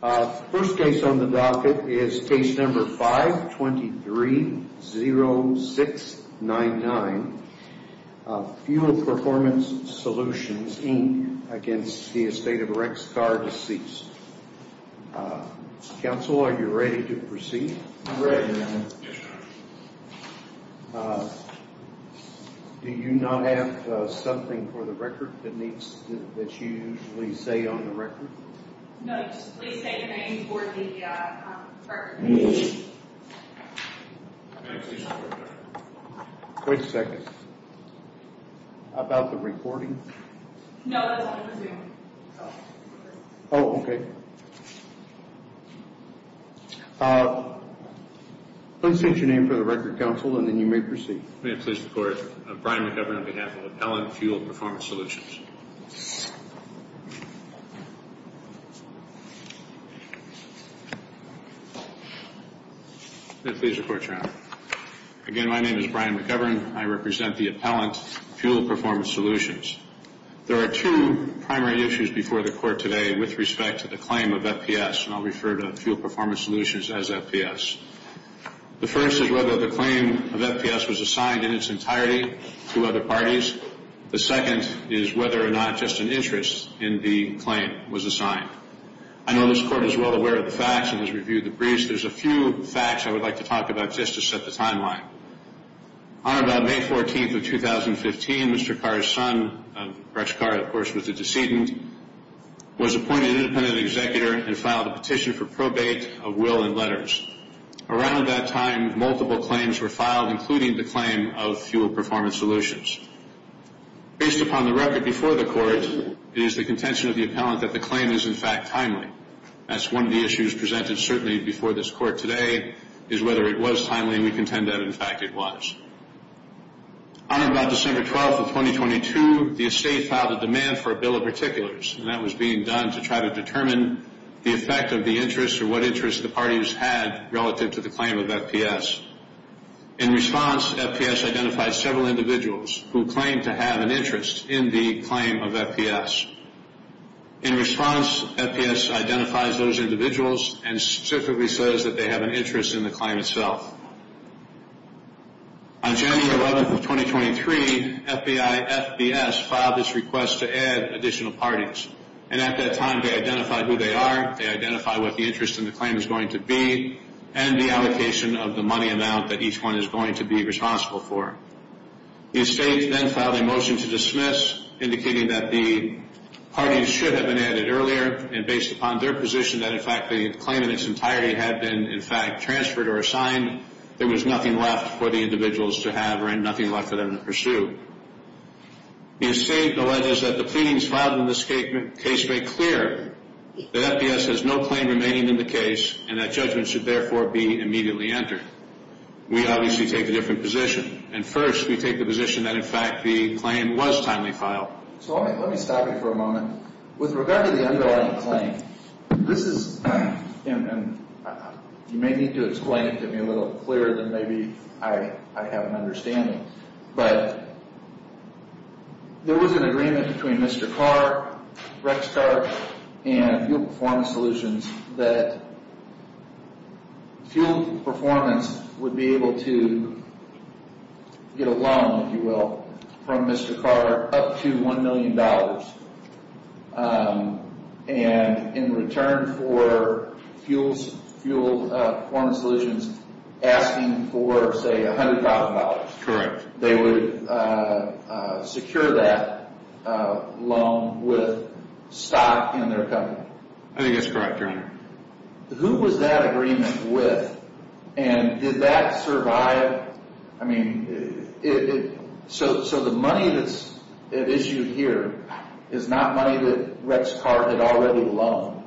First case on the docket is case number 523-0699, Fuel Performance Solutions, Inc., against the estate of Rex Carr, deceased. Counsel, are you ready to proceed? I'm ready, Your Honor. Do you not have something for the record that you usually say on the record? No, just please say your name for the record. Wait a second. How about the recording? No, that's on the Zoom. Oh, okay. Please state your name for the record, Counsel, and then you may proceed. May it please the Court, Brian McGovern on behalf of Appellant Fuel Performance Solutions. May it please the Court, Your Honor. Again, my name is Brian McGovern. I represent the Appellant Fuel Performance Solutions. There are two primary issues before the Court today with respect to the claim of FPS, and I'll refer to Fuel Performance Solutions as FPS. The first is whether the claim of FPS was assigned in its entirety to other parties. The second is whether or not just an interest in the claim was assigned. I know this Court is well aware of the facts and has reviewed the briefs. There's a few facts I would like to talk about just to set the timeline. On about May 14th of 2015, Mr. Carr's son, Rex Carr, of course, was a decedent, was appointed independent executor, and filed a petition for probate of will and letters. Around that time, multiple claims were filed, including the claim of Fuel Performance Solutions. Based upon the record before the Court, it is the contention of the appellant that the claim is, in fact, timely. That's one of the issues presented certainly before this Court today is whether it was timely, and we contend that, in fact, it was. On about December 12th of 2022, the estate filed a demand for a bill of particulars, and that was being done to try to determine the effect of the interest or what interest the parties had relative to the claim of FPS. In response, FPS identified several individuals who claimed to have an interest in the claim of FPS. In response, FPS identifies those individuals and specifically says that they have an interest in the claim itself. On January 11th of 2023, FBI-FBS filed this request to add additional parties, and at that time, they identified who they are, they identified what the interest in the claim is going to be, and the allocation of the money amount that each one is going to be responsible for. The estate then filed a motion to dismiss, indicating that the parties should have been added earlier, and based upon their position that, in fact, the claim in its entirety had been, in fact, transferred or assigned, there was nothing left for the individuals to have or nothing left for them to pursue. The estate alleges that the pleadings filed in this case make clear that FPS has no claim remaining in the case, and that judgment should, therefore, be immediately entered. We obviously take a different position, and first, we take the position that, in fact, the claim was timely filed. So let me stop you for a moment. With regard to the underlying claim, this is, and you may need to explain it to me a little clearer than maybe I have an understanding, but there was an agreement between Mr. Carr, Rex Carr, and Fuel Performance Solutions that Fuel Performance would be able to get a loan, if you will, from Mr. Carr up to $1 million, and in return for Fuel Performance Solutions asking for, say, $100,000. Correct. They would secure that loan with stock in their company. I think that's correct, Your Honor. Who was that agreement with, and did that survive? I mean, so the money that's issued here is not money that Rex Carr had already loaned.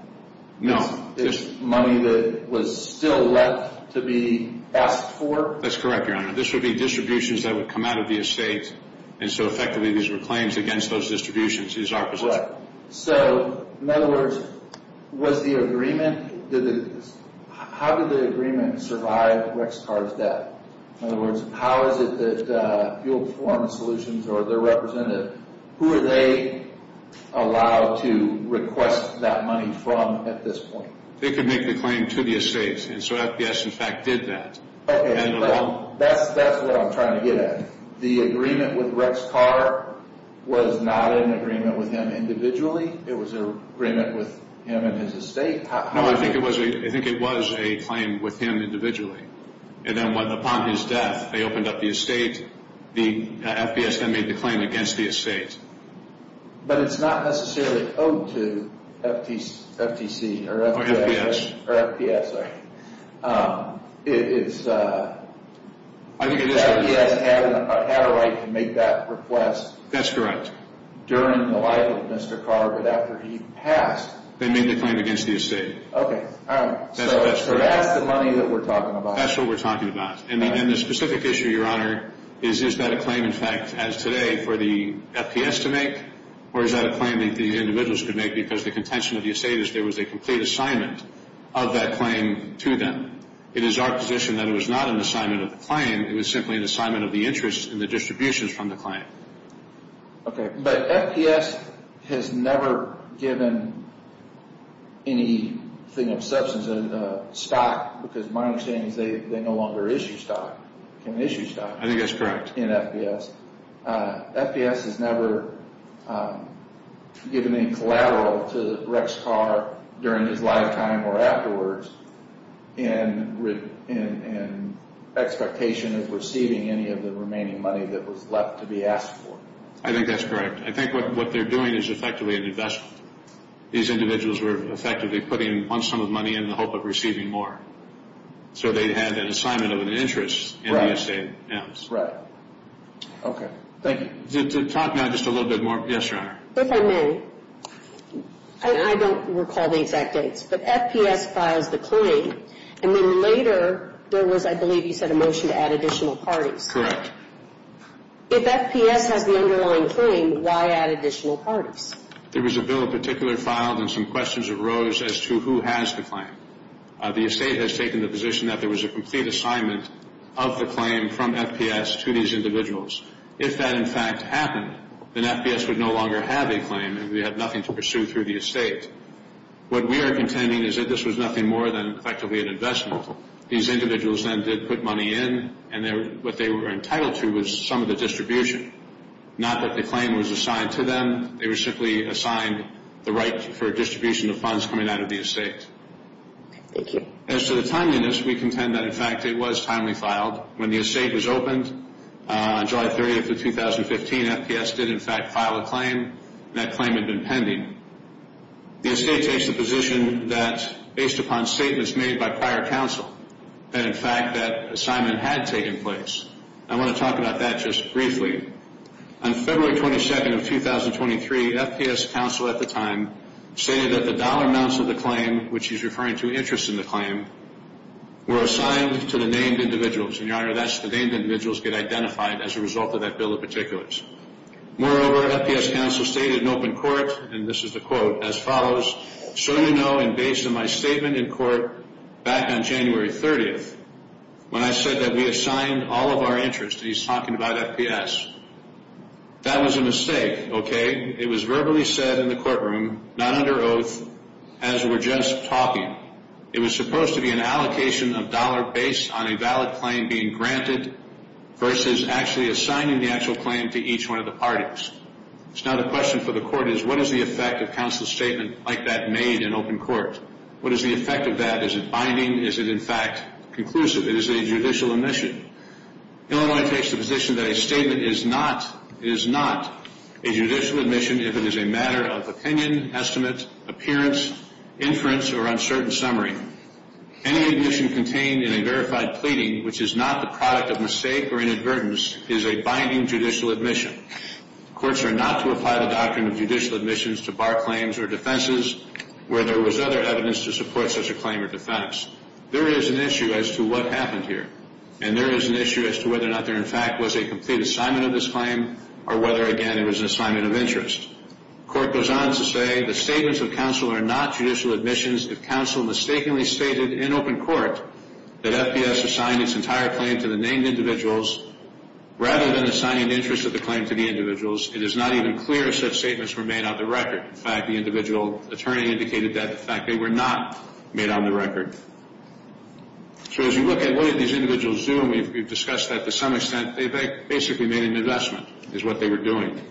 No. It's money that was still left to be asked for? That's correct, Your Honor. This would be distributions that would come out of the estate, and so effectively these were claims against those distributions is our position. Correct. So, in other words, was the agreement, how did the agreement survive Rex Carr's debt? In other words, how is it that Fuel Performance Solutions or their representative, who are they allowed to request that money from at this point? They could make the claim to the estate, and so FBS, in fact, did that. Okay. That's what I'm trying to get at. The agreement with Rex Carr was not an agreement with him individually. It was an agreement with him and his estate? No, I think it was a claim with him individually, and then upon his death they opened up the estate. The FBS then made the claim against the estate. But it's not necessarily owed to FTC or FBS. FBS had a right to make that request. That's correct. During the life of Mr. Carr, but after he passed. They made the claim against the estate. Okay. So that's the money that we're talking about. That's what we're talking about. And the specific issue, Your Honor, is is that a claim, in fact, as today for the FBS to make, or is that a claim that the individuals could make because the contention of the estate is there was a complete assignment of that claim to them. It is our position that it was not an assignment of the client. It was simply an assignment of the interest in the distributions from the client. Okay. But FBS has never given anything of substance, a stock because my understanding is they no longer issue stock, can issue stock. I think that's correct. In FBS. FBS has never given any collateral to Rex Carr during his lifetime or afterwards in expectation of receiving any of the remaining money that was left to be asked for. I think that's correct. I think what they're doing is effectively an investment. These individuals were effectively putting on some of the money in the hope of receiving more. So they had an assignment of an interest in the estate. Right. Okay. Thank you. To talk now just a little bit more. Yes, Your Honor. If I may, I don't recall the exact dates, but FBS files the claim, and then later there was, I believe you said, a motion to add additional parties. Correct. If FBS has the underlying claim, why add additional parties? The estate has taken the position that there was a complete assignment of the claim from FBS to these individuals. If that, in fact, happened, then FBS would no longer have a claim, and we have nothing to pursue through the estate. What we are contending is that this was nothing more than effectively an investment. These individuals then did put money in, and what they were entitled to was some of the distribution, not that the claim was assigned to them. They were simply assigned the right for distribution of funds coming out of the estate. Thank you. As to the timeliness, we contend that, in fact, it was timely filed. When the estate was opened on July 30th of 2015, FBS did, in fact, file a claim, and that claim had been pending. The estate takes the position that, based upon statements made by prior counsel, that, in fact, that assignment had taken place. I want to talk about that just briefly. On February 22nd of 2023, FBS counsel at the time stated that the dollar amounts of the claim, which he's referring to interest in the claim, were assigned to the named individuals. And, Your Honor, that's the named individuals get identified as a result of that bill of particulars. Moreover, FBS counsel stated in open court, and this is the quote, as follows, So you know, and based on my statement in court back on January 30th, when I said that we assigned all of our interest, and he's talking about FBS, that was a mistake, okay? It was verbally said in the courtroom, not under oath, as we're just talking. It was supposed to be an allocation of dollar based on a valid claim being granted versus actually assigning the actual claim to each one of the parties. So now the question for the court is, what is the effect of counsel's statement like that made in open court? What is the effect of that? Is it binding? Is it, in fact, conclusive? Is it a judicial admission? Illinois takes the position that a statement is not a judicial admission if it is a matter of opinion, estimate, appearance, inference, or uncertain summary. Any admission contained in a verified pleading, which is not the product of mistake or inadvertence, is a binding judicial admission. Courts are not to apply the doctrine of judicial admissions to bar claims or defenses where there was other evidence to support such a claim or defense. There is an issue as to what happened here, and there is an issue as to whether or not there, in fact, was a complete assignment of this claim or whether, again, it was an assignment of interest. The court goes on to say the statements of counsel are not judicial admissions if counsel mistakenly stated in open court that FBS assigned its entire claim to the named individuals rather than assigning the interest of the claim to the individuals. It is not even clear if such statements were made on the record. In fact, the individual attorney indicated that, in fact, they were not made on the record. So as you look at what did these individuals do, and we've discussed that to some extent, they basically made an investment is what they were doing.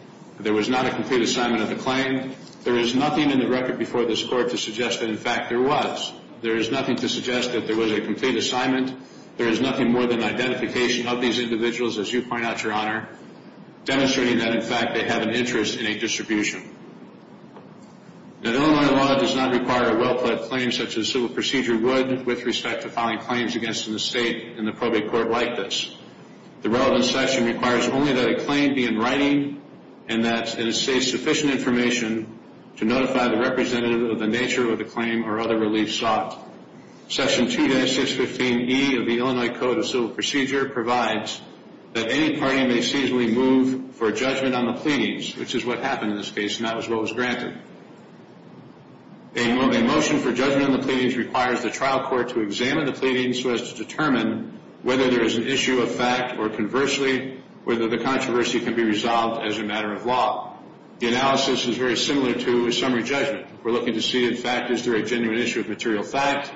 There was not a complete assignment of the claim. There is nothing in the record before this Court to suggest that, in fact, there was. There is nothing to suggest that there was a complete assignment. There is nothing more than identification of these individuals, as you point out, Your Honor, demonstrating that, in fact, they had an interest in a distribution. Now, Illinois law does not require a well-planned claim such as civil procedure would with respect to filing claims against an estate in the probate court like this. The relevant section requires only that a claim be in writing and that it say sufficient information to notify the representative of the nature of the claim or other relief sought. Section 2-615E of the Illinois Code of Civil Procedure provides that any party may seasonally move for judgment on the pleadings, which is what happened in this case, and that was what was granted. A motion for judgment on the pleadings requires the trial court to examine the pleadings so as to determine whether there is an issue of fact or, conversely, whether the controversy can be resolved as a matter of law. The analysis is very similar to a summary judgment. We're looking to see, in fact, is there a genuine issue of material fact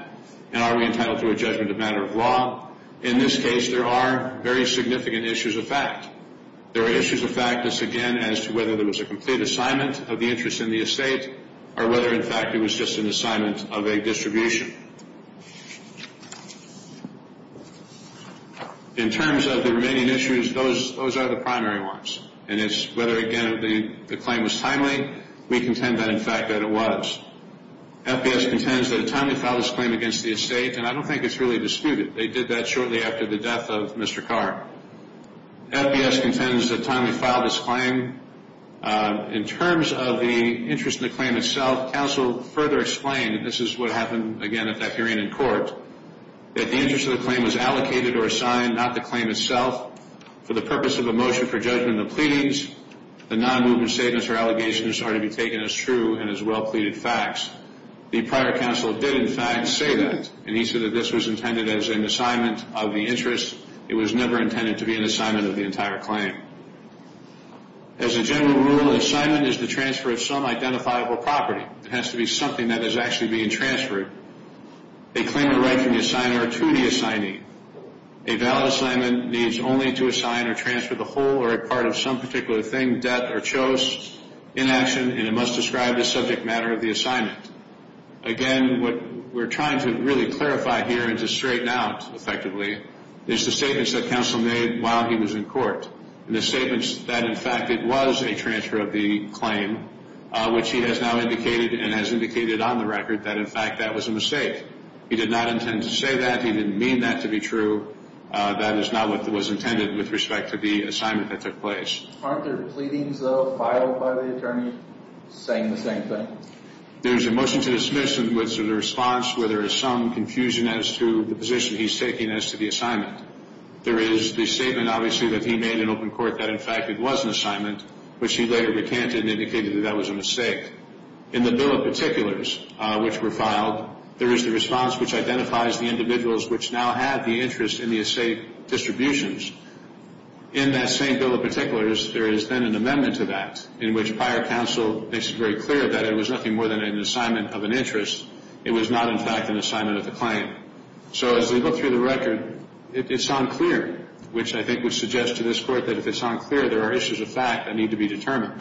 and are we entitled to a judgment of matter of law? In this case, there are very significant issues of fact. There are issues of fact that's, again, as to whether there was a complete assignment of the interest in the estate or whether, in fact, it was just an assignment of a distribution. In terms of the remaining issues, those are the primary ones, and it's whether, again, the claim was timely. We contend that, in fact, that it was. FBS contends that a timely file was claimed against the estate, and I don't think it's really disputed. They did that shortly after the death of Mr. Carr. FBS contends that a timely file was claimed. In terms of the interest in the claim itself, counsel further explained, and this is what happened, again, at that hearing in court, that the interest of the claim was allocated or assigned, not the claim itself, for the purpose of a motion for judgment on the pleadings. The non-movement statements or allegations are to be taken as true and as well-pleaded facts. The prior counsel did, in fact, say that, and he said that this was intended as an assignment of the interest. It was never intended to be an assignment of the entire claim. As a general rule, an assignment is the transfer of some identifiable property. It has to be something that is actually being transferred. They claim the right from the assigner to the assignee. A valid assignment needs only to assign or transfer the whole or a part of some particular thing, debt, or chose in action, and it must describe the subject matter of the assignment. Again, what we're trying to really clarify here and to straighten out effectively is the statements that counsel made while he was in court and the statements that, in fact, it was a transfer of the claim, which he has now indicated and has indicated on the record that, in fact, that was a mistake. He did not intend to say that. He didn't mean that to be true. That is not what was intended with respect to the assignment that took place. Aren't there pleadings, though, filed by the attorney saying the same thing? There's a motion to dismiss in which there's a response where there is some confusion as to the position he's taking as to the assignment. There is the statement, obviously, that he made in open court that, in fact, it was an assignment, which he later recanted and indicated that that was a mistake. In the bill of particulars, which were filed, there is the response which identifies the individuals which now have the interest in the estate distributions. In that same bill of particulars, there is then an amendment to that in which prior counsel makes it very clear that it was nothing more than an assignment of an interest. It was not, in fact, an assignment of the claim. So as we look through the record, it's unclear, which I think would suggest to this court that if it's unclear, there are issues of fact that need to be determined.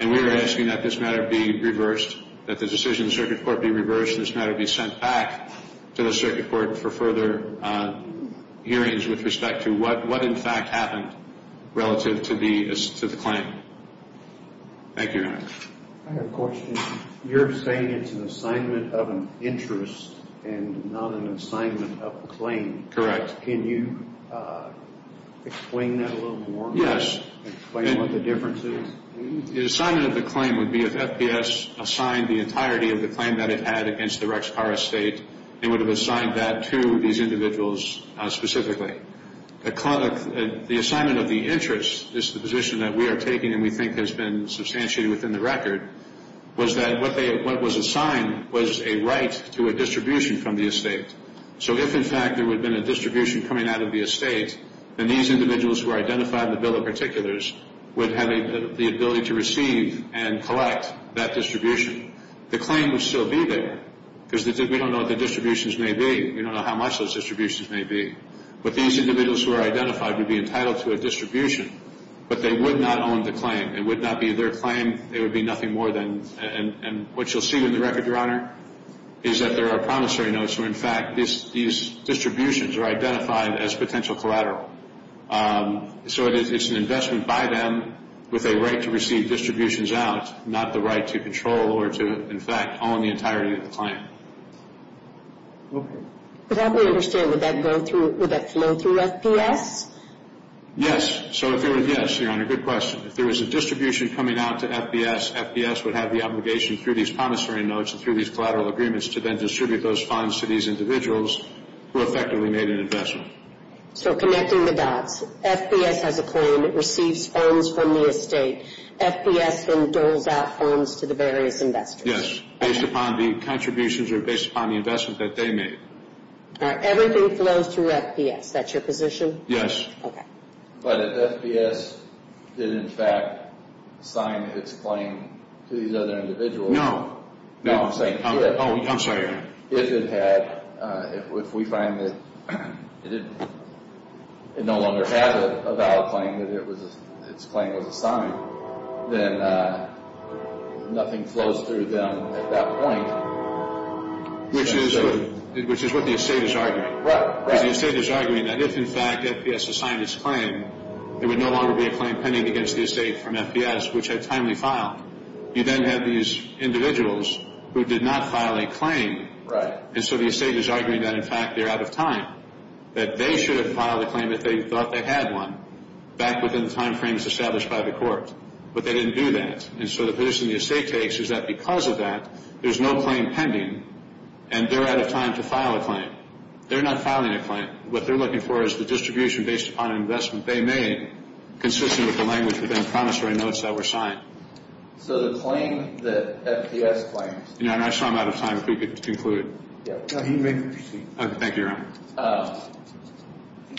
And we are asking that this matter be reversed, that the decision of the circuit court be reversed, and this matter be sent back to the circuit court for further hearings with respect to what, in fact, happened relative to the claim. Thank you, Your Honor. I have a question. You're saying it's an assignment of an interest and not an assignment of a claim. Correct. Can you explain that a little more? Yes. Explain what the difference is. The assignment of the claim would be if FPS assigned the entirety of the claim that it had against the Rex Carr estate, it would have assigned that to these individuals specifically. The assignment of the interest is the position that we are taking and we think has been substantiated within the record, was that what was assigned was a right to a distribution from the estate. So if, in fact, there would have been a distribution coming out of the estate, then these individuals who are identified in the bill of particulars would have the ability to receive and collect that distribution. The claim would still be there because we don't know what the distributions may be. We don't know how much those distributions may be. But these individuals who are identified would be entitled to a distribution, but they would not own the claim. It would not be their claim. It would be nothing more than and what you'll see in the record, Your Honor, is that there are promissory notes where, in fact, these distributions are identified as potential collateral. So it's an investment by them with a right to receive distributions out, not the right to control or to, in fact, own the entirety of the claim. But I don't understand. Would that flow through FBS? Yes. So if there was a distribution coming out to FBS, FBS would have the obligation through these promissory notes and through these collateral agreements to then distribute those funds to these individuals who effectively made an investment. So connecting the dots, FBS has a claim. It receives funds from the estate. FBS then doles out funds to the various investors. Yes, based upon the contributions or based upon the investment that they made. Everything flows through FBS. That's your position? Yes. Okay. But if FBS did, in fact, sign its claim to these other individuals? No. No. Oh, I'm sorry. If it had, if we find that it no longer has a valid claim that its claim was assigned, then nothing flows through them at that point. Which is what the estate is arguing. Right. Because the estate is arguing that if, in fact, FBS assigned its claim, there would no longer be a claim pending against the estate from FBS, which had timely filed. You then have these individuals who did not file a claim. Right. And so the estate is arguing that, in fact, they're out of time, that they should have filed a claim if they thought they had one, back within the time frames established by the court. But they didn't do that. And so the position the estate takes is that because of that, there's no claim pending, and they're out of time to file a claim. They're not filing a claim. What they're looking for is the distribution based upon an investment they made, consistent with the language within the promissory notes that were signed. So the claim that FBS claims. And I saw I'm out of time. If we could conclude. He may proceed. Thank you, Your Honor.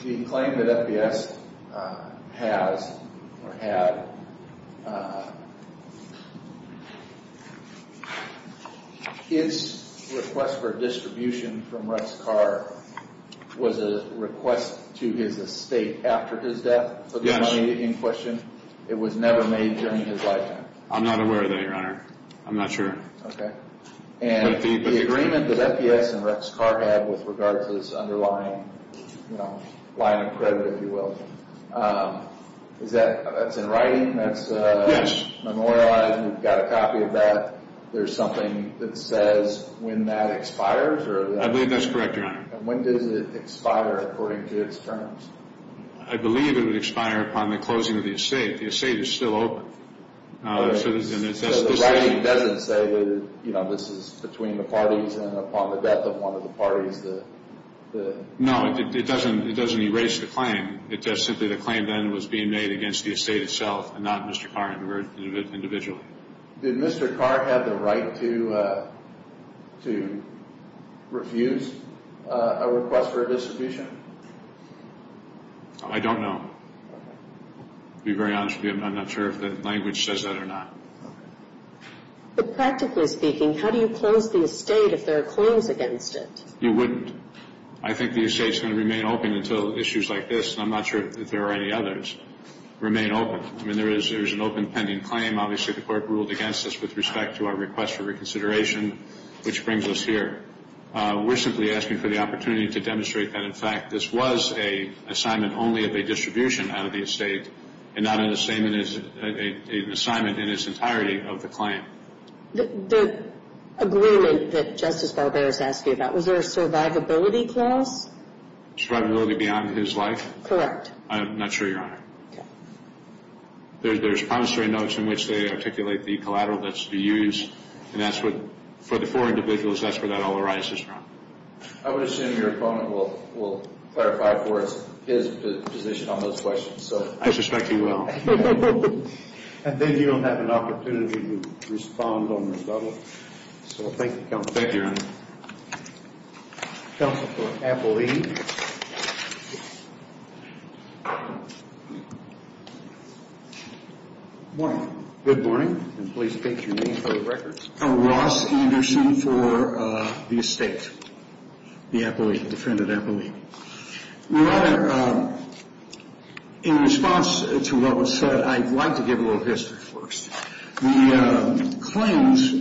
The claim that FBS has or had, its request for distribution from Russ Carr was a request to his estate after his death? Yes. For the money in question? It was never made during his lifetime? I'm not aware of that, Your Honor. I'm not sure. Okay. And the agreement that FBS and Russ Carr had with regard to this underlying, you know, line of credit, if you will, is that, that's in writing? Yes. That's memorialized and you've got a copy of that. There's something that says when that expires? I believe that's correct, Your Honor. And when does it expire according to its terms? I believe it would expire upon the closing of the estate. The estate is still open. So the writing doesn't say, you know, this is between the parties and upon the death of one of the parties. No, it doesn't erase the claim. It does simply the claim then was being made against the estate itself and not Mr. Carr individually. Did Mr. Carr have the right to refuse a request for a distribution? I don't know. To be very honest with you, I'm not sure if the language says that or not. But practically speaking, how do you close the estate if there are claims against it? You wouldn't. I think the estate is going to remain open until issues like this, and I'm not sure if there are any others, remain open. I mean, there is an open pending claim. Obviously, the court ruled against us with respect to our request for reconsideration, which brings us here. We're simply asking for the opportunity to demonstrate that, in fact, this was an assignment only of a distribution out of the estate and not an assignment in its entirety of the claim. The agreement that Justice Barber is asking about, was there a survivability clause? Survivability beyond his life? Correct. I'm not sure, Your Honor. Okay. There's promissory notes in which they articulate the collateral that's to be used, and that's what, for the four individuals, that's where that all arises from. I would assume your opponent will clarify for us his position on those questions. I suspect he will. And then you don't have an opportunity to respond on rebuttal. So thank you, Counsel. Thank you, Your Honor. Counsel for Appleby. Good morning. And please state your name for the record. Ross Anderson for the estate, the defendant, Appleby. Your Honor, in response to what was said, I'd like to give a little history first. The claims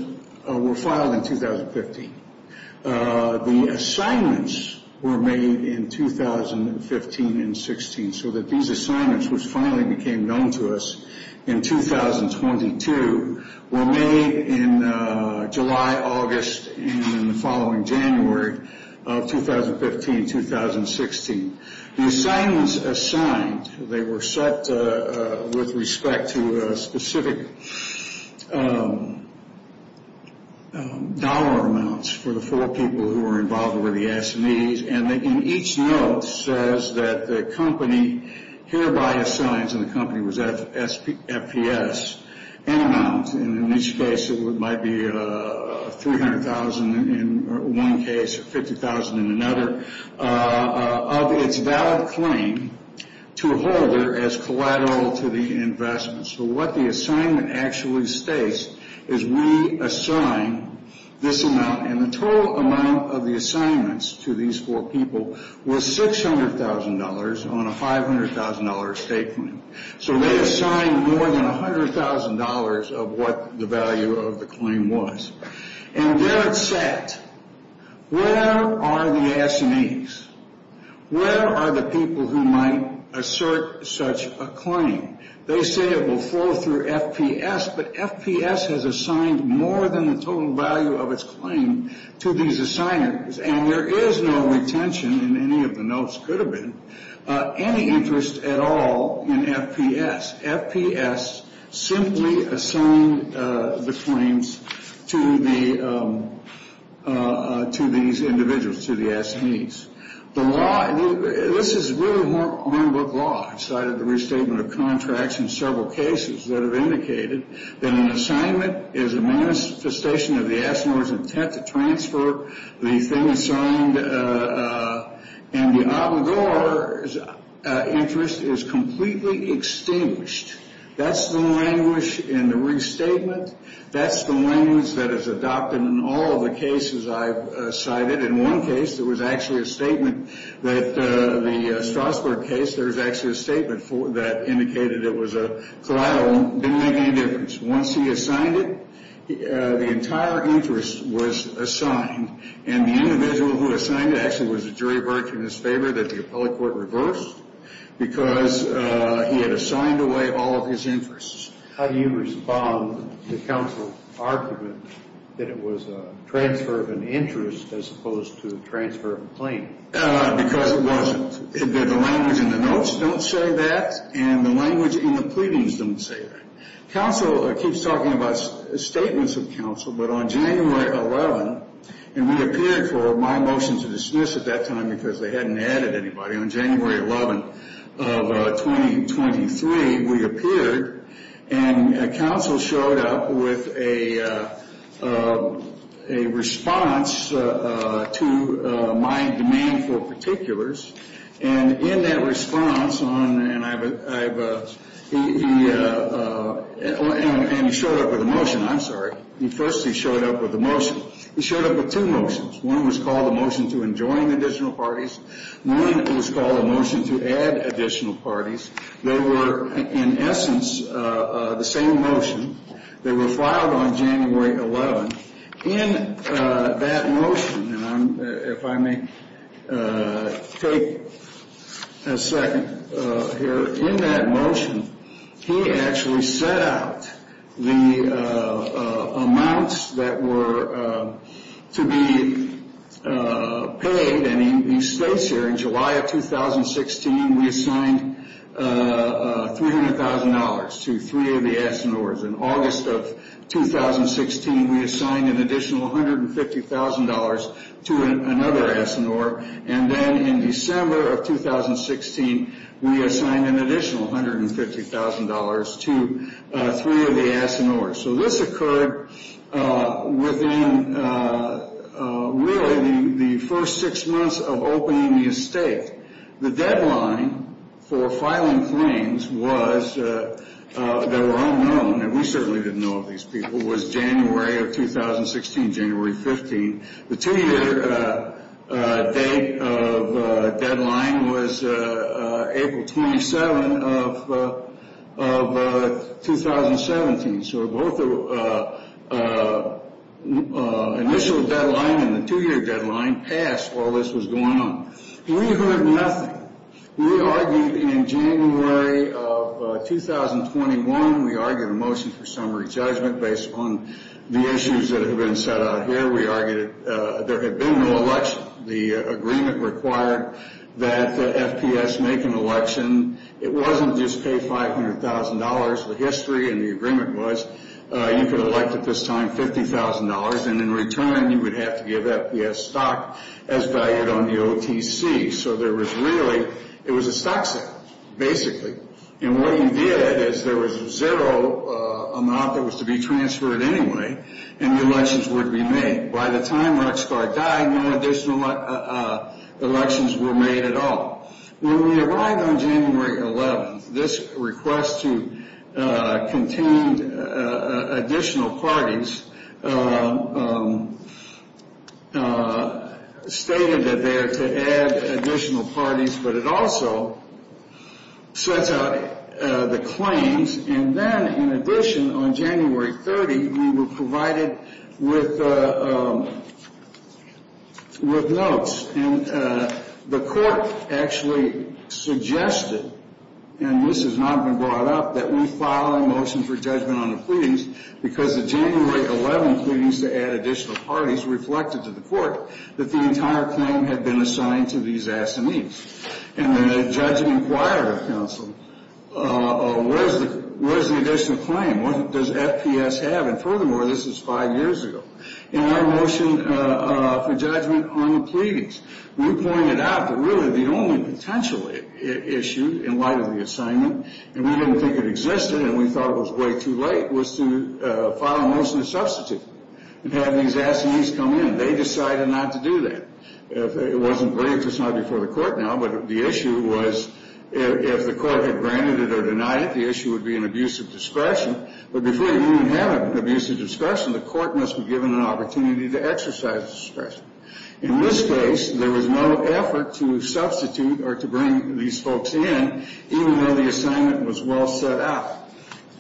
were filed in 2015. The assignments were made in 2015 and 2016, so that these assignments, which finally became known to us in 2022, were made in July, August, and the following January of 2015, 2016. The assignments assigned, they were set with respect to specific dollar amounts for the four people who were involved with the assinees, and in each note says that the company hereby assigns, and the company was FPS, an amount, and in each case it might be $300,000 in one case or $50,000 in another, of its valid claim to a holder as collateral to the investment. So what the assignment actually states is we assign this amount, and the total amount of the assignments to these four people was $600,000 on a $500,000 estate claim. So they assigned more than $100,000 of what the value of the claim was. And there it sat. Where are the assinees? Where are the people who might assert such a claim? They say it will flow through FPS, but FPS has assigned more than the total value of its claim to these assigners, and there is no retention in any of the notes, could have been, any interest at all in FPS. FPS simply assigned the claims to these individuals, to the assinees. The law, this is really a one-book law. I cited the restatement of contracts in several cases that have indicated that an assignment is a manifestation of the assigner's intent to transfer the thing assigned, and the obligor's interest is completely extinguished. That's the language in the restatement. That's the language that is adopted in all of the cases I've cited. In one case, there was actually a statement that the Strasburg case, there was actually a statement that indicated it was a collateral. It didn't make any difference. Once he assigned it, the entire interest was assigned, and the individual who assigned it actually was a jury verdict in his favor that the appellate court reversed because he had assigned away all of his interests. How do you respond to counsel's argument that it was a transfer of an interest as opposed to a transfer of a claim? Because it wasn't. The language in the notes don't say that, and the language in the pleadings don't say that. Counsel keeps talking about statements of counsel, but on January 11, and we appeared for my motion to dismiss at that time because they hadn't added anybody. On January 11 of 2023, we appeared, and counsel showed up with a response to my demand for particulars, and in that response, and he showed up with a motion. I'm sorry. First, he showed up with a motion. He showed up with two motions. One was called a motion to enjoin additional parties. One was called a motion to add additional parties. They were, in essence, the same motion. They were filed on January 11. In that motion, and if I may take a second here, in that motion, he actually set out the amounts that were to be paid, and he states here, in July of 2016, we assigned $300,000 to three of the S&Rs. In August of 2016, we assigned an additional $150,000 to another S&R, and then in December of 2016, we assigned an additional $150,000 to three of the S&Rs. So this occurred within, really, the first six months of opening the estate. The deadline for filing claims that were unknown, and we certainly didn't know of these people, was January of 2016, January 15. The two-year date of deadline was April 27 of 2017. So both the initial deadline and the two-year deadline passed while this was going on. We heard nothing. We argued in January of 2021. We argued a motion for summary judgment based on the issues that have been set out here. We argued there had been no election. The agreement required that FPS make an election. It wasn't just pay $500,000 for history, and the agreement was you could elect at this time $50,000, and in return you would have to give FPS stock as valued on the OTC. So there was really, it was a stock sale, basically. And what you did is there was a zero amount that was to be transferred anyway, and the elections would be made. By the time Ruckschar died, no additional elections were made at all. When we arrived on January 11, this request to contain additional parties stated that they are to add additional parties, but it also sets out the claims, and then in addition, on January 30, we were provided with notes, and the court actually suggested, and this has not been brought up, that we file a motion for judgment on the pleadings because the January 11 pleadings to add additional parties reflected to the court that the entire claim had been assigned to these assinees. And then the judge inquired of counsel, what is the additional claim? What does FPS have? And furthermore, this is five years ago. In our motion for judgment on the pleadings, we pointed out that really the only potential issue in light of the assignment, and we didn't think it existed, and we thought it was way too late, was to file a motion to substitute and have these assinees come in. They decided not to do that. It wasn't brief. It's not before the court now, but the issue was if the court had granted it or denied it, the issue would be an abuse of discretion, but before you even have an abuse of discretion, the court must be given an opportunity to exercise discretion. In this case, there was no effort to substitute or to bring these folks in, even though the assignment was well set up.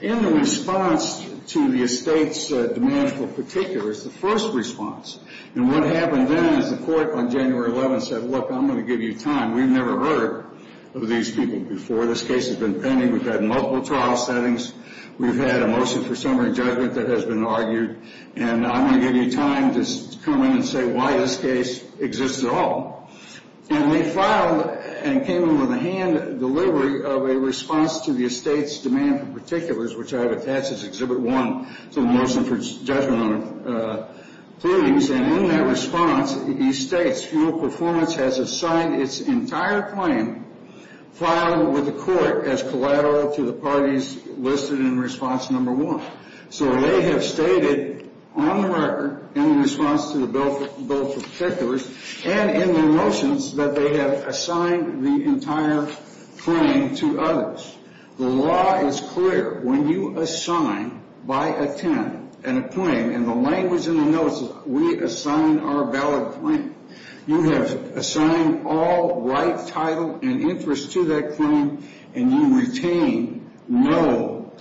In the response to the estate's demands for particulars, the first response, and what happened then is the court on January 11 said, look, I'm going to give you time. We've never heard of these people before. This case has been pending. We've had multiple trial settings. We've had a motion for summary judgment that has been argued, and I'm going to give you time to come in and say why this case exists at all. And they filed and came in with a hand delivery of a response to the estate's demand for particulars, which I have attached as Exhibit 1 to the motion for judgment on the pleadings, and in that response, he states, fuel performance has assigned its entire claim filed with the court as collateral to the parties listed in response number 1. So they have stated on the record in response to the bill for particulars and in their motions that they have assigned the entire claim to others. The law is clear. When you assign by a 10 and a claim in the language in the notice, we assign our valid claim. You have assigned all right, title, and interest to that claim, and you retain no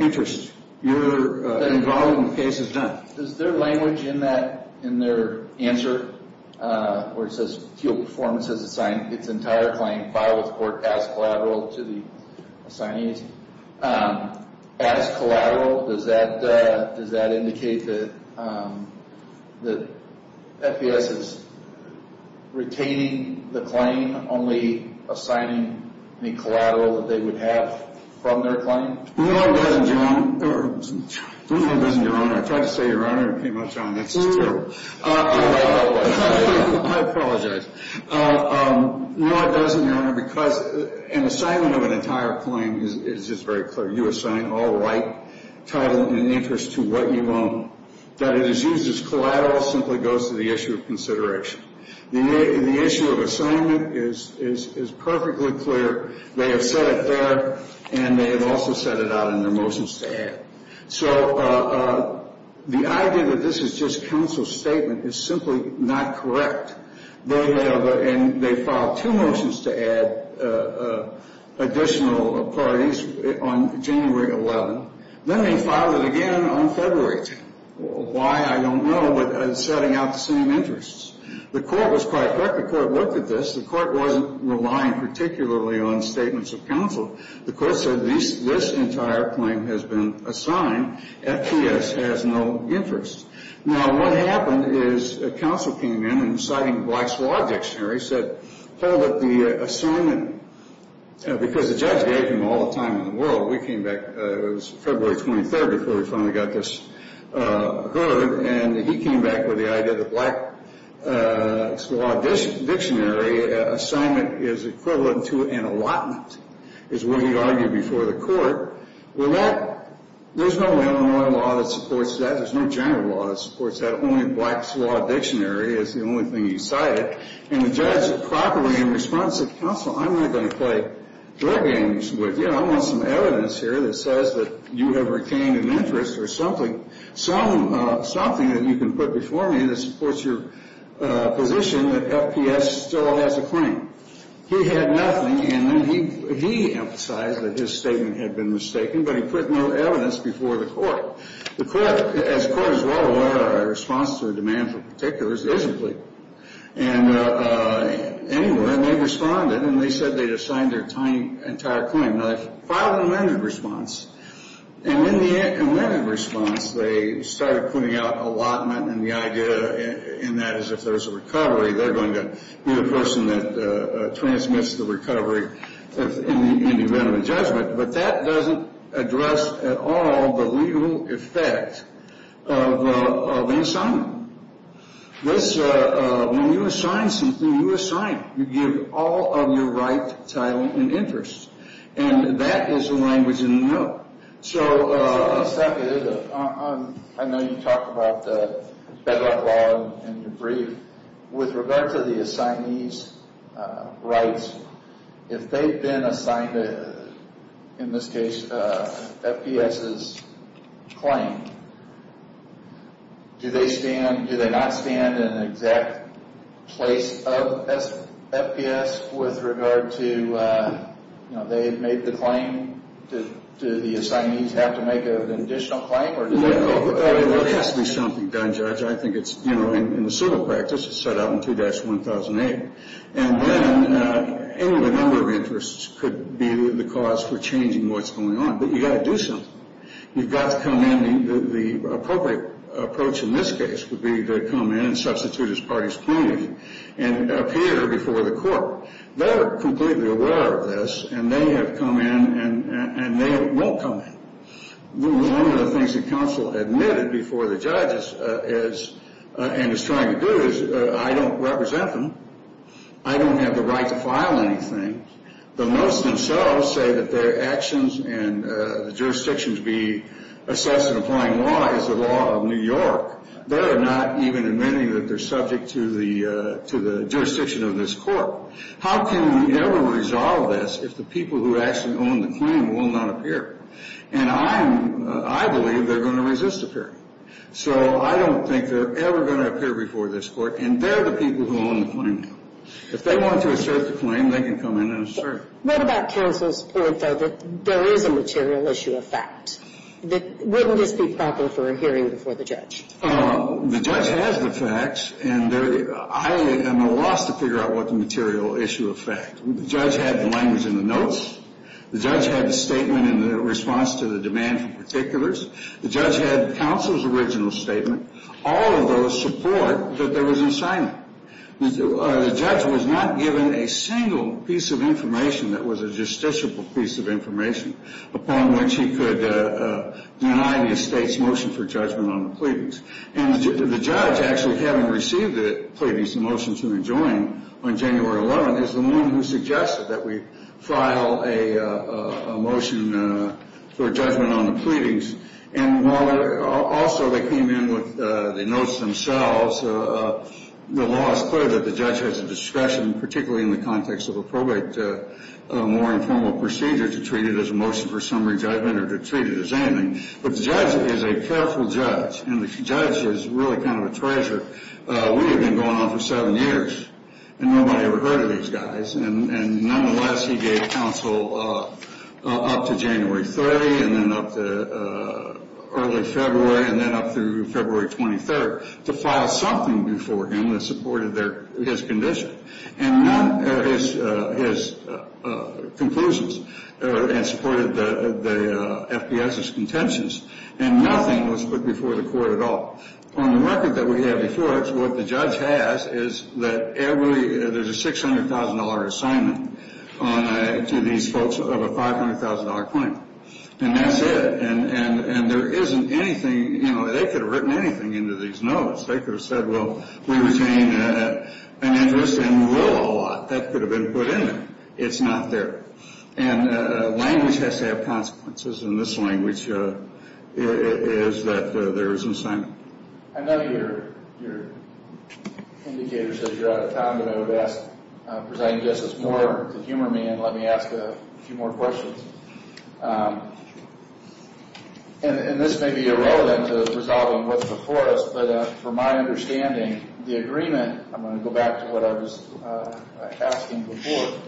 interest. Your involvement in the case is done. Is there language in their answer where it says fuel performance has assigned its entire claim filed with the court as collateral to the assignees? As collateral? Does that indicate that FDS is retaining the claim, only assigning the collateral that they would have from their claim? No, it doesn't, Your Honor. I tried to say, Your Honor, and it came up, John. That's just terrible. I apologize. No, it doesn't, Your Honor, because an assignment of an entire claim is just very clear. You assign all right, title, and interest to what you own. That it is used as collateral simply goes to the issue of consideration. The issue of assignment is perfectly clear. They have said it there, and they have also said it out in their motions to add. So the idea that this is just counsel's statement is simply not correct. They have filed two motions to add additional parties on January 11. Then they filed it again on February 10. Why, I don't know, but it's setting out the same interests. The court was quite correct. The court looked at this. The court wasn't relying particularly on statements of counsel. The court said this entire claim has been assigned. FDS has no interest. Now, what happened is counsel came in and, citing Black's Law Dictionary, said hold up the assignment because the judge gave him all the time in the world. We came back. It was February 23rd before we finally got this heard, and he came back with the idea that Black's Law Dictionary assignment is equivalent to an allotment, is what he argued before the court. There's no Illinois law that supports that. There's no general law that supports that. Only Black's Law Dictionary is the only thing he cited, and the judge properly in response said, counsel, I'm not going to play drug games with you. I want some evidence here that says that you have retained an interest or something that you can put before me that supports your position that FDS still has a claim. He had nothing, and then he emphasized that his statement had been mistaken, but he put no evidence before the court. The court, as the court is well aware, our response to a demand for particulars isn't legal. And anyway, they responded, and they said they'd assigned their entire claim. Now, they filed an amended response, and in the amended response, they started putting out allotment, and the idea in that is if there's a recovery, they're going to be the person that transmits the recovery in the event of a judgment. But that doesn't address at all the legal effect of the assignment. When you assign something, you assign. You give all of your right, title, and interest, and that is the language in the bill. So, I know you talked about the bedrock law in your brief. With regard to the assignee's rights, if they've been assigned, in this case, FDS's claim, do they not stand in the exact place of FDS with regard to, you know, if they've made the claim, do the assignees have to make an additional claim? No, there has to be something done, Judge. I think it's, you know, in the civil practice, it's set out in 2-1008. And then any number of interests could be the cause for changing what's going on. But you've got to do something. You've got to come in. The appropriate approach in this case would be to come in and substitute as parties pleading, and appear before the court. They're completely aware of this, and they have come in, and they will come in. One of the things the counsel admitted before the judge and is trying to do is, I don't represent them. I don't have the right to file anything. But most themselves say that their actions and the jurisdictions be assessed in applying law is the law of New York. They're not even admitting that they're subject to the jurisdiction of this court. How can we ever resolve this if the people who actually own the claim will not appear? And I believe they're going to resist appearing. So I don't think they're ever going to appear before this court, and they're the people who own the claim now. If they want to assert the claim, they can come in and assert it. What about counsel's point, though, that there is a material issue of fact? Wouldn't this be proper for a hearing before the judge? The judge has the facts, and I am at a loss to figure out what the material issue of fact. The judge had the language in the notes. The judge had the statement in response to the demand for particulars. The judge had counsel's original statement. All of those support that there was an assignment. The judge was not given a single piece of information that was a justiciable piece of information upon which he could deny the estate's motion for judgment on the pleadings. And the judge, actually having received the pleadings, the motions that were joined on January 11th, is the one who suggested that we file a motion for judgment on the pleadings. And while also they came in with the notes themselves, the law is clear that the judge has a discretion, particularly in the context of a probate, a more informal procedure to treat it as a motion for summary judgment or to treat it as anything. But the judge is a careful judge, and the judge is really kind of a treasure. We have been going on for seven years, and nobody ever heard of these guys. And nonetheless, he gave counsel up to January 30th and then up to early February and then up through February 23rd to file something before him that supported his condition and supported the FBS's contentions, and nothing was put before the court at all. On the record that we have before us, what the judge has is that there's a $600,000 assignment to these folks of a $500,000 claim, and that's it. And there isn't anything, you know, they could have written anything into these notes. They could have said, well, we retain an interest in Will a lot. That could have been put in there. It's not there. And language has to have consequences, and this language is that there is an assignment. I know your indicator says you're out of time, but I would ask, just more to humor me and let me ask a few more questions. And this may be irrelevant to resolving what's before us, but from my understanding, the agreement, I'm going to go back to what I was asking before.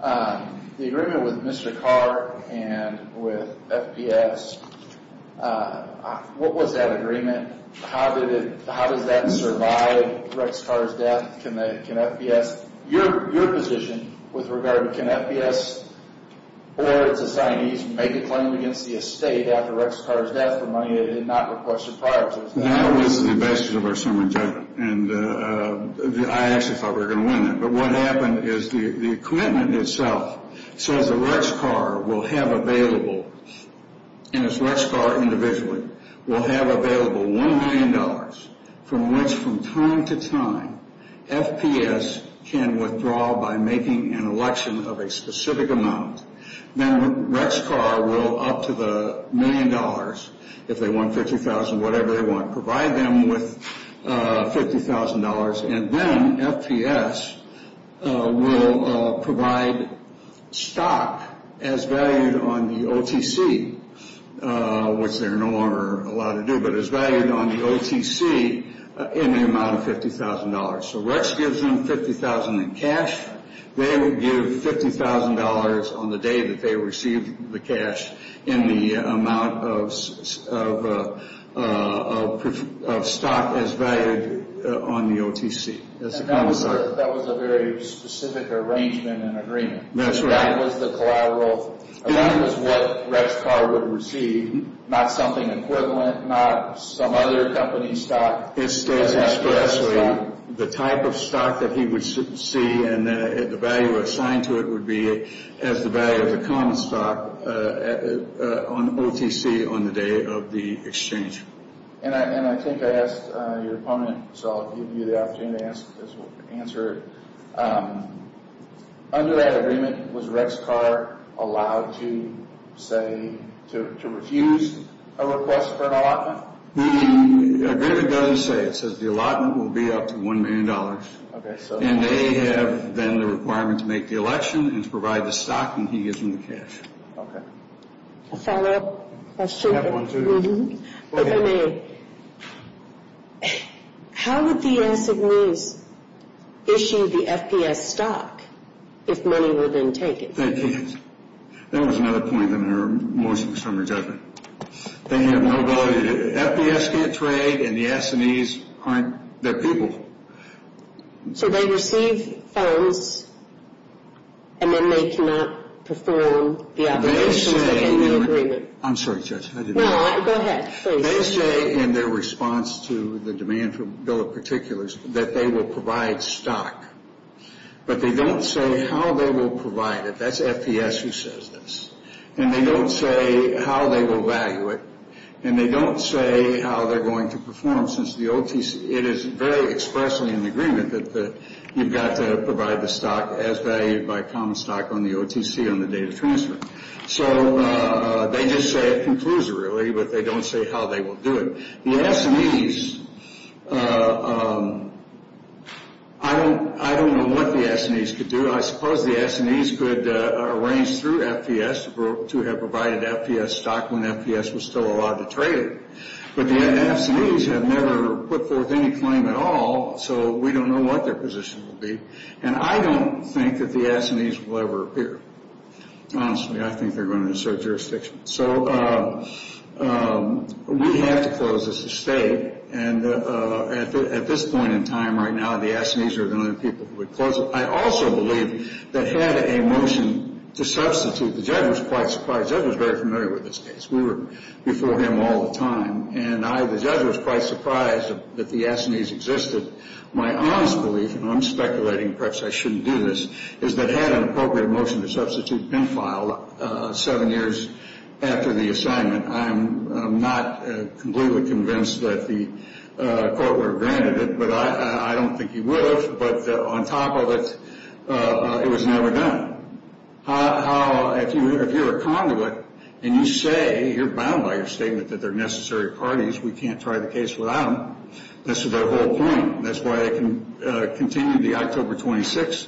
The agreement with Mr. Carr and with FBS, what was that agreement? How did that survive Rex Carr's death? Can FBS, your position with regard to can FBS or its assignees make a claim against the estate after Rex Carr's death for money they did not request prior to his death? That was the basis of our summary judgment, and I actually thought we were going to win that. But what happened is the commitment itself says that Rex Carr will have available, and it's Rex Carr individually, will have available $1 million from which from time to time FBS can withdraw by making an election of a specific amount. Now, Rex Carr will, up to the $1 million, if they want $50,000, whatever they want, provide them with $50,000, and then FBS will provide stock as valued on the OTC, which they're no longer allowed to do, but as valued on the OTC in the amount of $50,000. So Rex gives them $50,000 in cash. They will give $50,000 on the day that they receive the cash in the amount of stock as valued on the OTC. That was a very specific arrangement and agreement. That's right. So that was what Rex Carr would receive, not something equivalent, not some other company stock. It says expressly the type of stock that he would see and the value assigned to it would be as the value of the common stock on the OTC on the day of the exchange. And I think I asked your opponent, so I'll give you the opportunity to answer it. Under that agreement, was Rex Carr allowed to refuse a request for an allotment? The agreement doesn't say. It says the allotment will be up to $1 million. And they have then the requirement to make the election and to provide the stock, and he gives them the cash. I have one, too. How would the S&Es issue the FPS stock if money were then taken? Thank you. That was another point in your motion, Mr. Chairman and Judge. They have no value. The FPS can't trade, and the S&Es aren't their people. So they receive funds, and then they cannot perform the obligations under the agreement. I'm sorry, Judge. No, go ahead. They say in their response to the demand for bill of particulars that they will provide stock, but they don't say how they will provide it. That's FPS who says this. And they don't say how they will value it, and they don't say how they're going to perform, since it is very expressly in the agreement that you've got to provide the stock as valued by common stock on the OTC on the day of transfer. So they just say it conclusorily, but they don't say how they will do it. The S&Es, I don't know what the S&Es could do. I suppose the S&Es could arrange through FPS to have provided FPS stock when FPS was still allowed to trade it. But the S&Es have never put forth any claim at all, so we don't know what their position will be. And I don't think that the S&Es will ever appear. Honestly, I think they're going to assert jurisdiction. So we have to close this estate. And at this point in time right now, the S&Es are the only people who would close it. I also believe that had a motion to substitute, the judge was quite surprised. The judge was very familiar with this case. We were before him all the time. And the judge was quite surprised that the S&Es existed. My honest belief, and I'm speculating, perhaps I shouldn't do this, is that had an appropriate motion to substitute been filed seven years after the assignment, I'm not completely convinced that the court would have granted it. But I don't think he would have. But on top of it, it was never done. If you're a conduit and you say you're bound by your statement that they're necessary parties, we can't try the case without them, this is their whole point. That's why they continued the October 26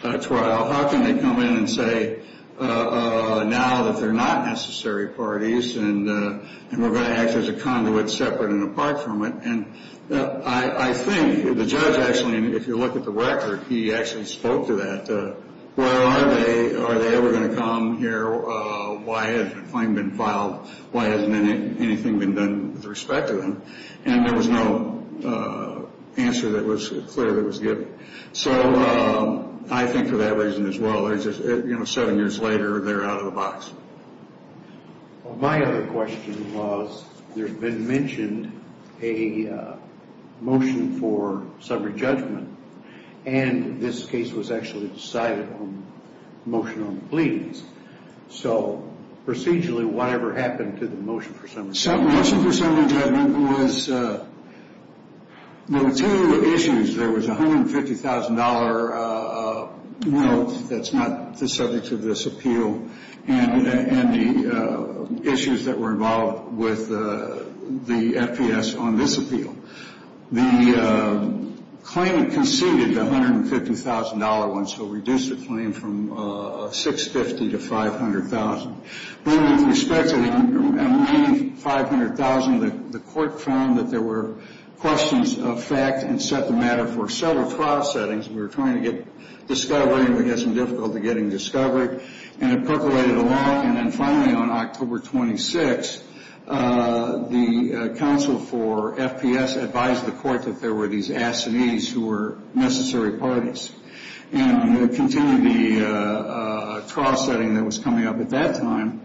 trial. How can they come in and say now that they're not necessary parties and we're going to act as a conduit separate and apart from it? And I think the judge actually, if you look at the record, he actually spoke to that. Where are they? Are they ever going to come here? Why hasn't a claim been filed? Why hasn't anything been done with respect to them? And there was no answer that was clear that was given. So I think for that reason as well, seven years later they're out of the box. My other question was there had been mentioned a motion for summary judgment, and this case was actually decided on a motion on pleadings. So procedurally whatever happened to the motion for summary judgment? Motion for summary judgment was there were two issues. There was a $150,000 note that's not the subject of this appeal and the issues that were involved with the FPS on this appeal. The claimant conceded the $150,000 one, so reduced the claim from $650,000 to $500,000. With respect to the $500,000, the court found that there were questions of fact and set the matter for several trial settings. We were trying to get discovery. We had some difficulty getting discovery, and it percolated along. And then finally on October 26, the counsel for FPS advised the court that there were these assinees who were necessary parties, and continued the trial setting that was coming up at that time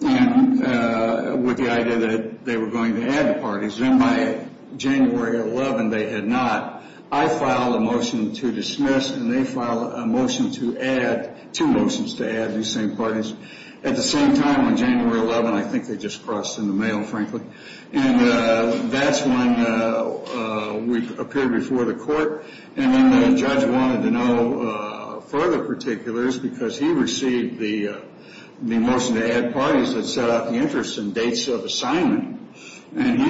with the idea that they were going to add the parties. And by January 11, they had not. I filed a motion to dismiss, and they filed a motion to add, two motions to add these same parties. At the same time, on January 11, I think they just crossed in the mail, frankly. And that's when we appeared before the court. And the judge wanted to know further particulars because he received the motion to add parties that set out the interests and dates of assignment. And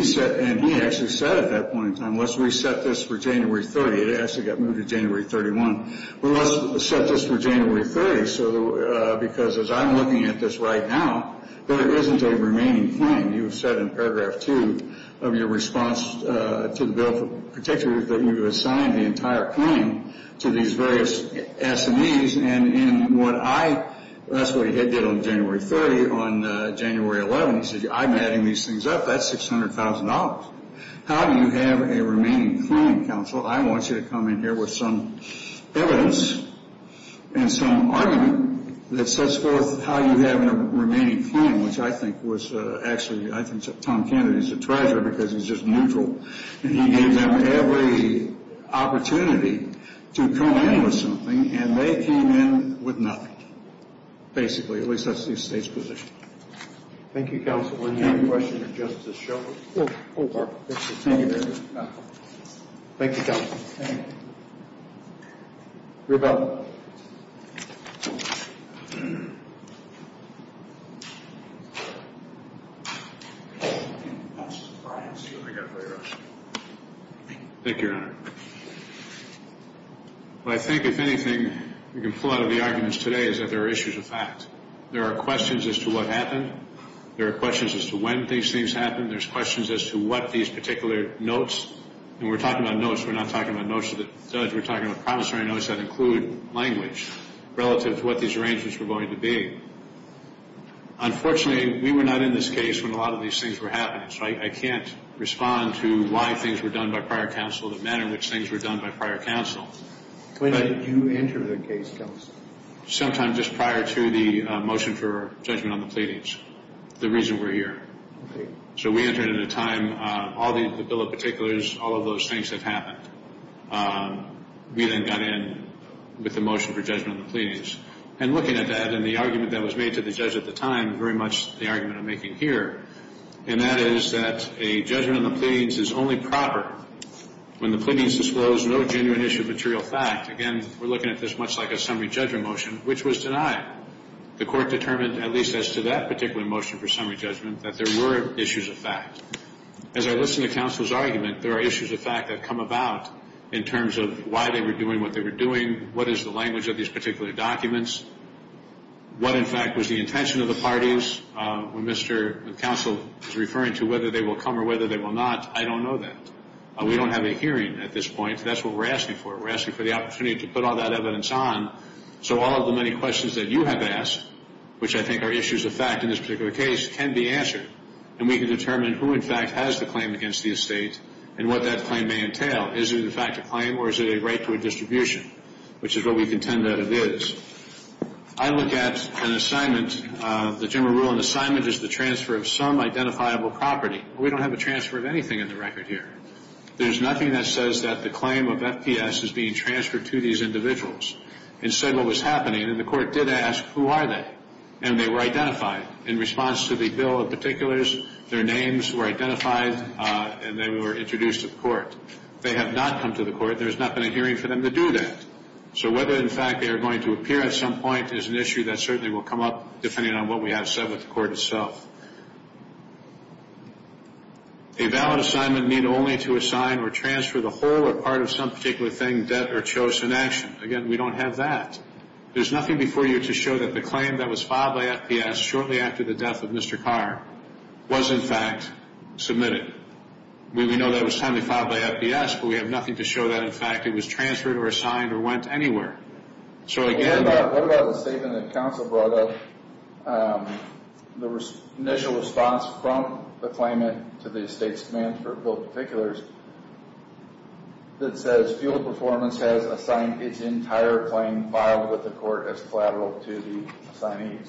he actually said at that point in time, let's reset this for January 30. It actually got moved to January 31. We must set this for January 30 because as I'm looking at this right now, there isn't a remaining claim. You said in Paragraph 2 of your response to the bill, particularly that you assigned the entire claim to these various assinees. And what I, that's what he did on January 30. On January 11, he said, I'm adding these things up. That's $600,000. How do you have a remaining claim, counsel? I want you to come in here with some evidence and some argument that sets forth how you have a remaining claim, which I think was actually, I think Tom Kennedy is a treasure because he's just neutral. And he gave them every opportunity to come in with something, and they came in with nothing, basically. At least that's the estate's position. Thank you, counsel. Are there any questions of Justice Shulman? No, there aren't. Thank you. Thank you, counsel. Rebell. Thank you, Your Honor. What I think, if anything, we can pull out of the arguments today is that there are issues of fact. There are questions as to what happened. There are questions as to when these things happened. There are questions as to what these particular notes, and we're talking about notes, we're not talking about notes of the judge. We're talking about promissory notes that include language relative to what these arrangements were going to be. Unfortunately, we were not in this case when a lot of these things were happening, so I can't respond to why things were done by prior counsel, the manner in which things were done by prior counsel. When did you enter the case, counsel? Sometime just prior to the motion for judgment on the pleadings, the reason we're here. Okay. So we entered at a time all the bill of particulars, all of those things that happened. We then got in with the motion for judgment on the pleadings. And looking at that and the argument that was made to the judge at the time, very much the argument I'm making here, and that is that a judgment on the pleadings is only proper when the pleadings disclose no genuine issue of material fact. Again, we're looking at this much like a summary judgment motion, which was denied. The court determined, at least as to that particular motion for summary judgment, that there were issues of fact. As I listen to counsel's argument, there are issues of fact that come about in terms of why they were doing what they were doing, what is the language of these particular documents, what, in fact, was the intention of the parties. When Mr. Counsel is referring to whether they will come or whether they will not, I don't know that. We don't have a hearing at this point. That's what we're asking for. We're asking for the opportunity to put all that evidence on, so all of the many questions that you have asked, which I think are issues of fact in this particular case, can be answered, and we can determine who, in fact, has the claim against the estate and what that claim may entail. Is it, in fact, a claim or is it a right to a distribution, which is what we contend that it is. I look at an assignment, the general rule, an assignment is the transfer of some identifiable property. We don't have a transfer of anything in the record here. There's nothing that says that the claim of FPS is being transferred to these individuals. Instead, what was happening, and the court did ask, who are they? And they were identified. In response to the bill of particulars, their names were identified, and they were introduced to the court. They have not come to the court. There has not been a hearing for them to do that. So whether, in fact, they are going to appear at some point is an issue that certainly will come up depending on what we have said with the court itself. A valid assignment need only to assign or transfer the whole or part of some particular thing, debt, or chosen action. Again, we don't have that. There's nothing before you to show that the claim that was filed by FPS shortly after the death of Mr. Carr was, in fact, submitted. We know that it was timely filed by FPS, but we have nothing to show that, in fact, it was transferred or assigned or went anywhere. So again, What about the statement that counsel brought up, the initial response from the claimant to the estate's demands for a bill of particulars that says Fuel Performance has assigned its entire claim filed with the court as collateral to the assignees?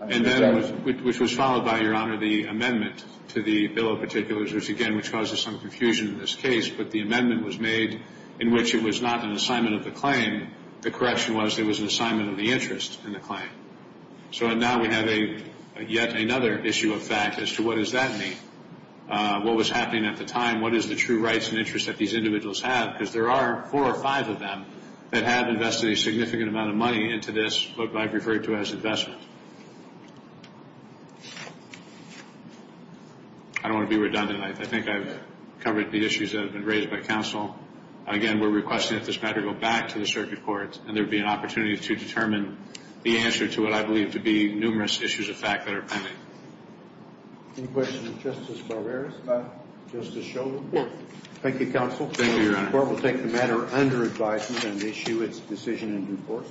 And then, which was followed by, Your Honor, the amendment to the bill of particulars, which, again, which causes some confusion in this case, but the amendment was made in which it was not an assignment of the claim. The correction was it was an assignment of the interest in the claim. So now we have yet another issue of fact as to what does that mean, what was happening at the time, what is the true rights and interests that these individuals have, because there are four or five of them that have invested a significant amount of money into this, what I've referred to as investment. I don't want to be redundant. I think I've covered the issues that have been raised by counsel. Again, we're requesting that this matter go back to the circuit courts, and there will be an opportunity to determine the answer to what I believe to be numerous issues of fact that are pending. Any questions of Justice Barbera? Just to show the court. Thank you, counsel. Thank you, Your Honor. The court will take the matter under advisement and issue its decision in due course.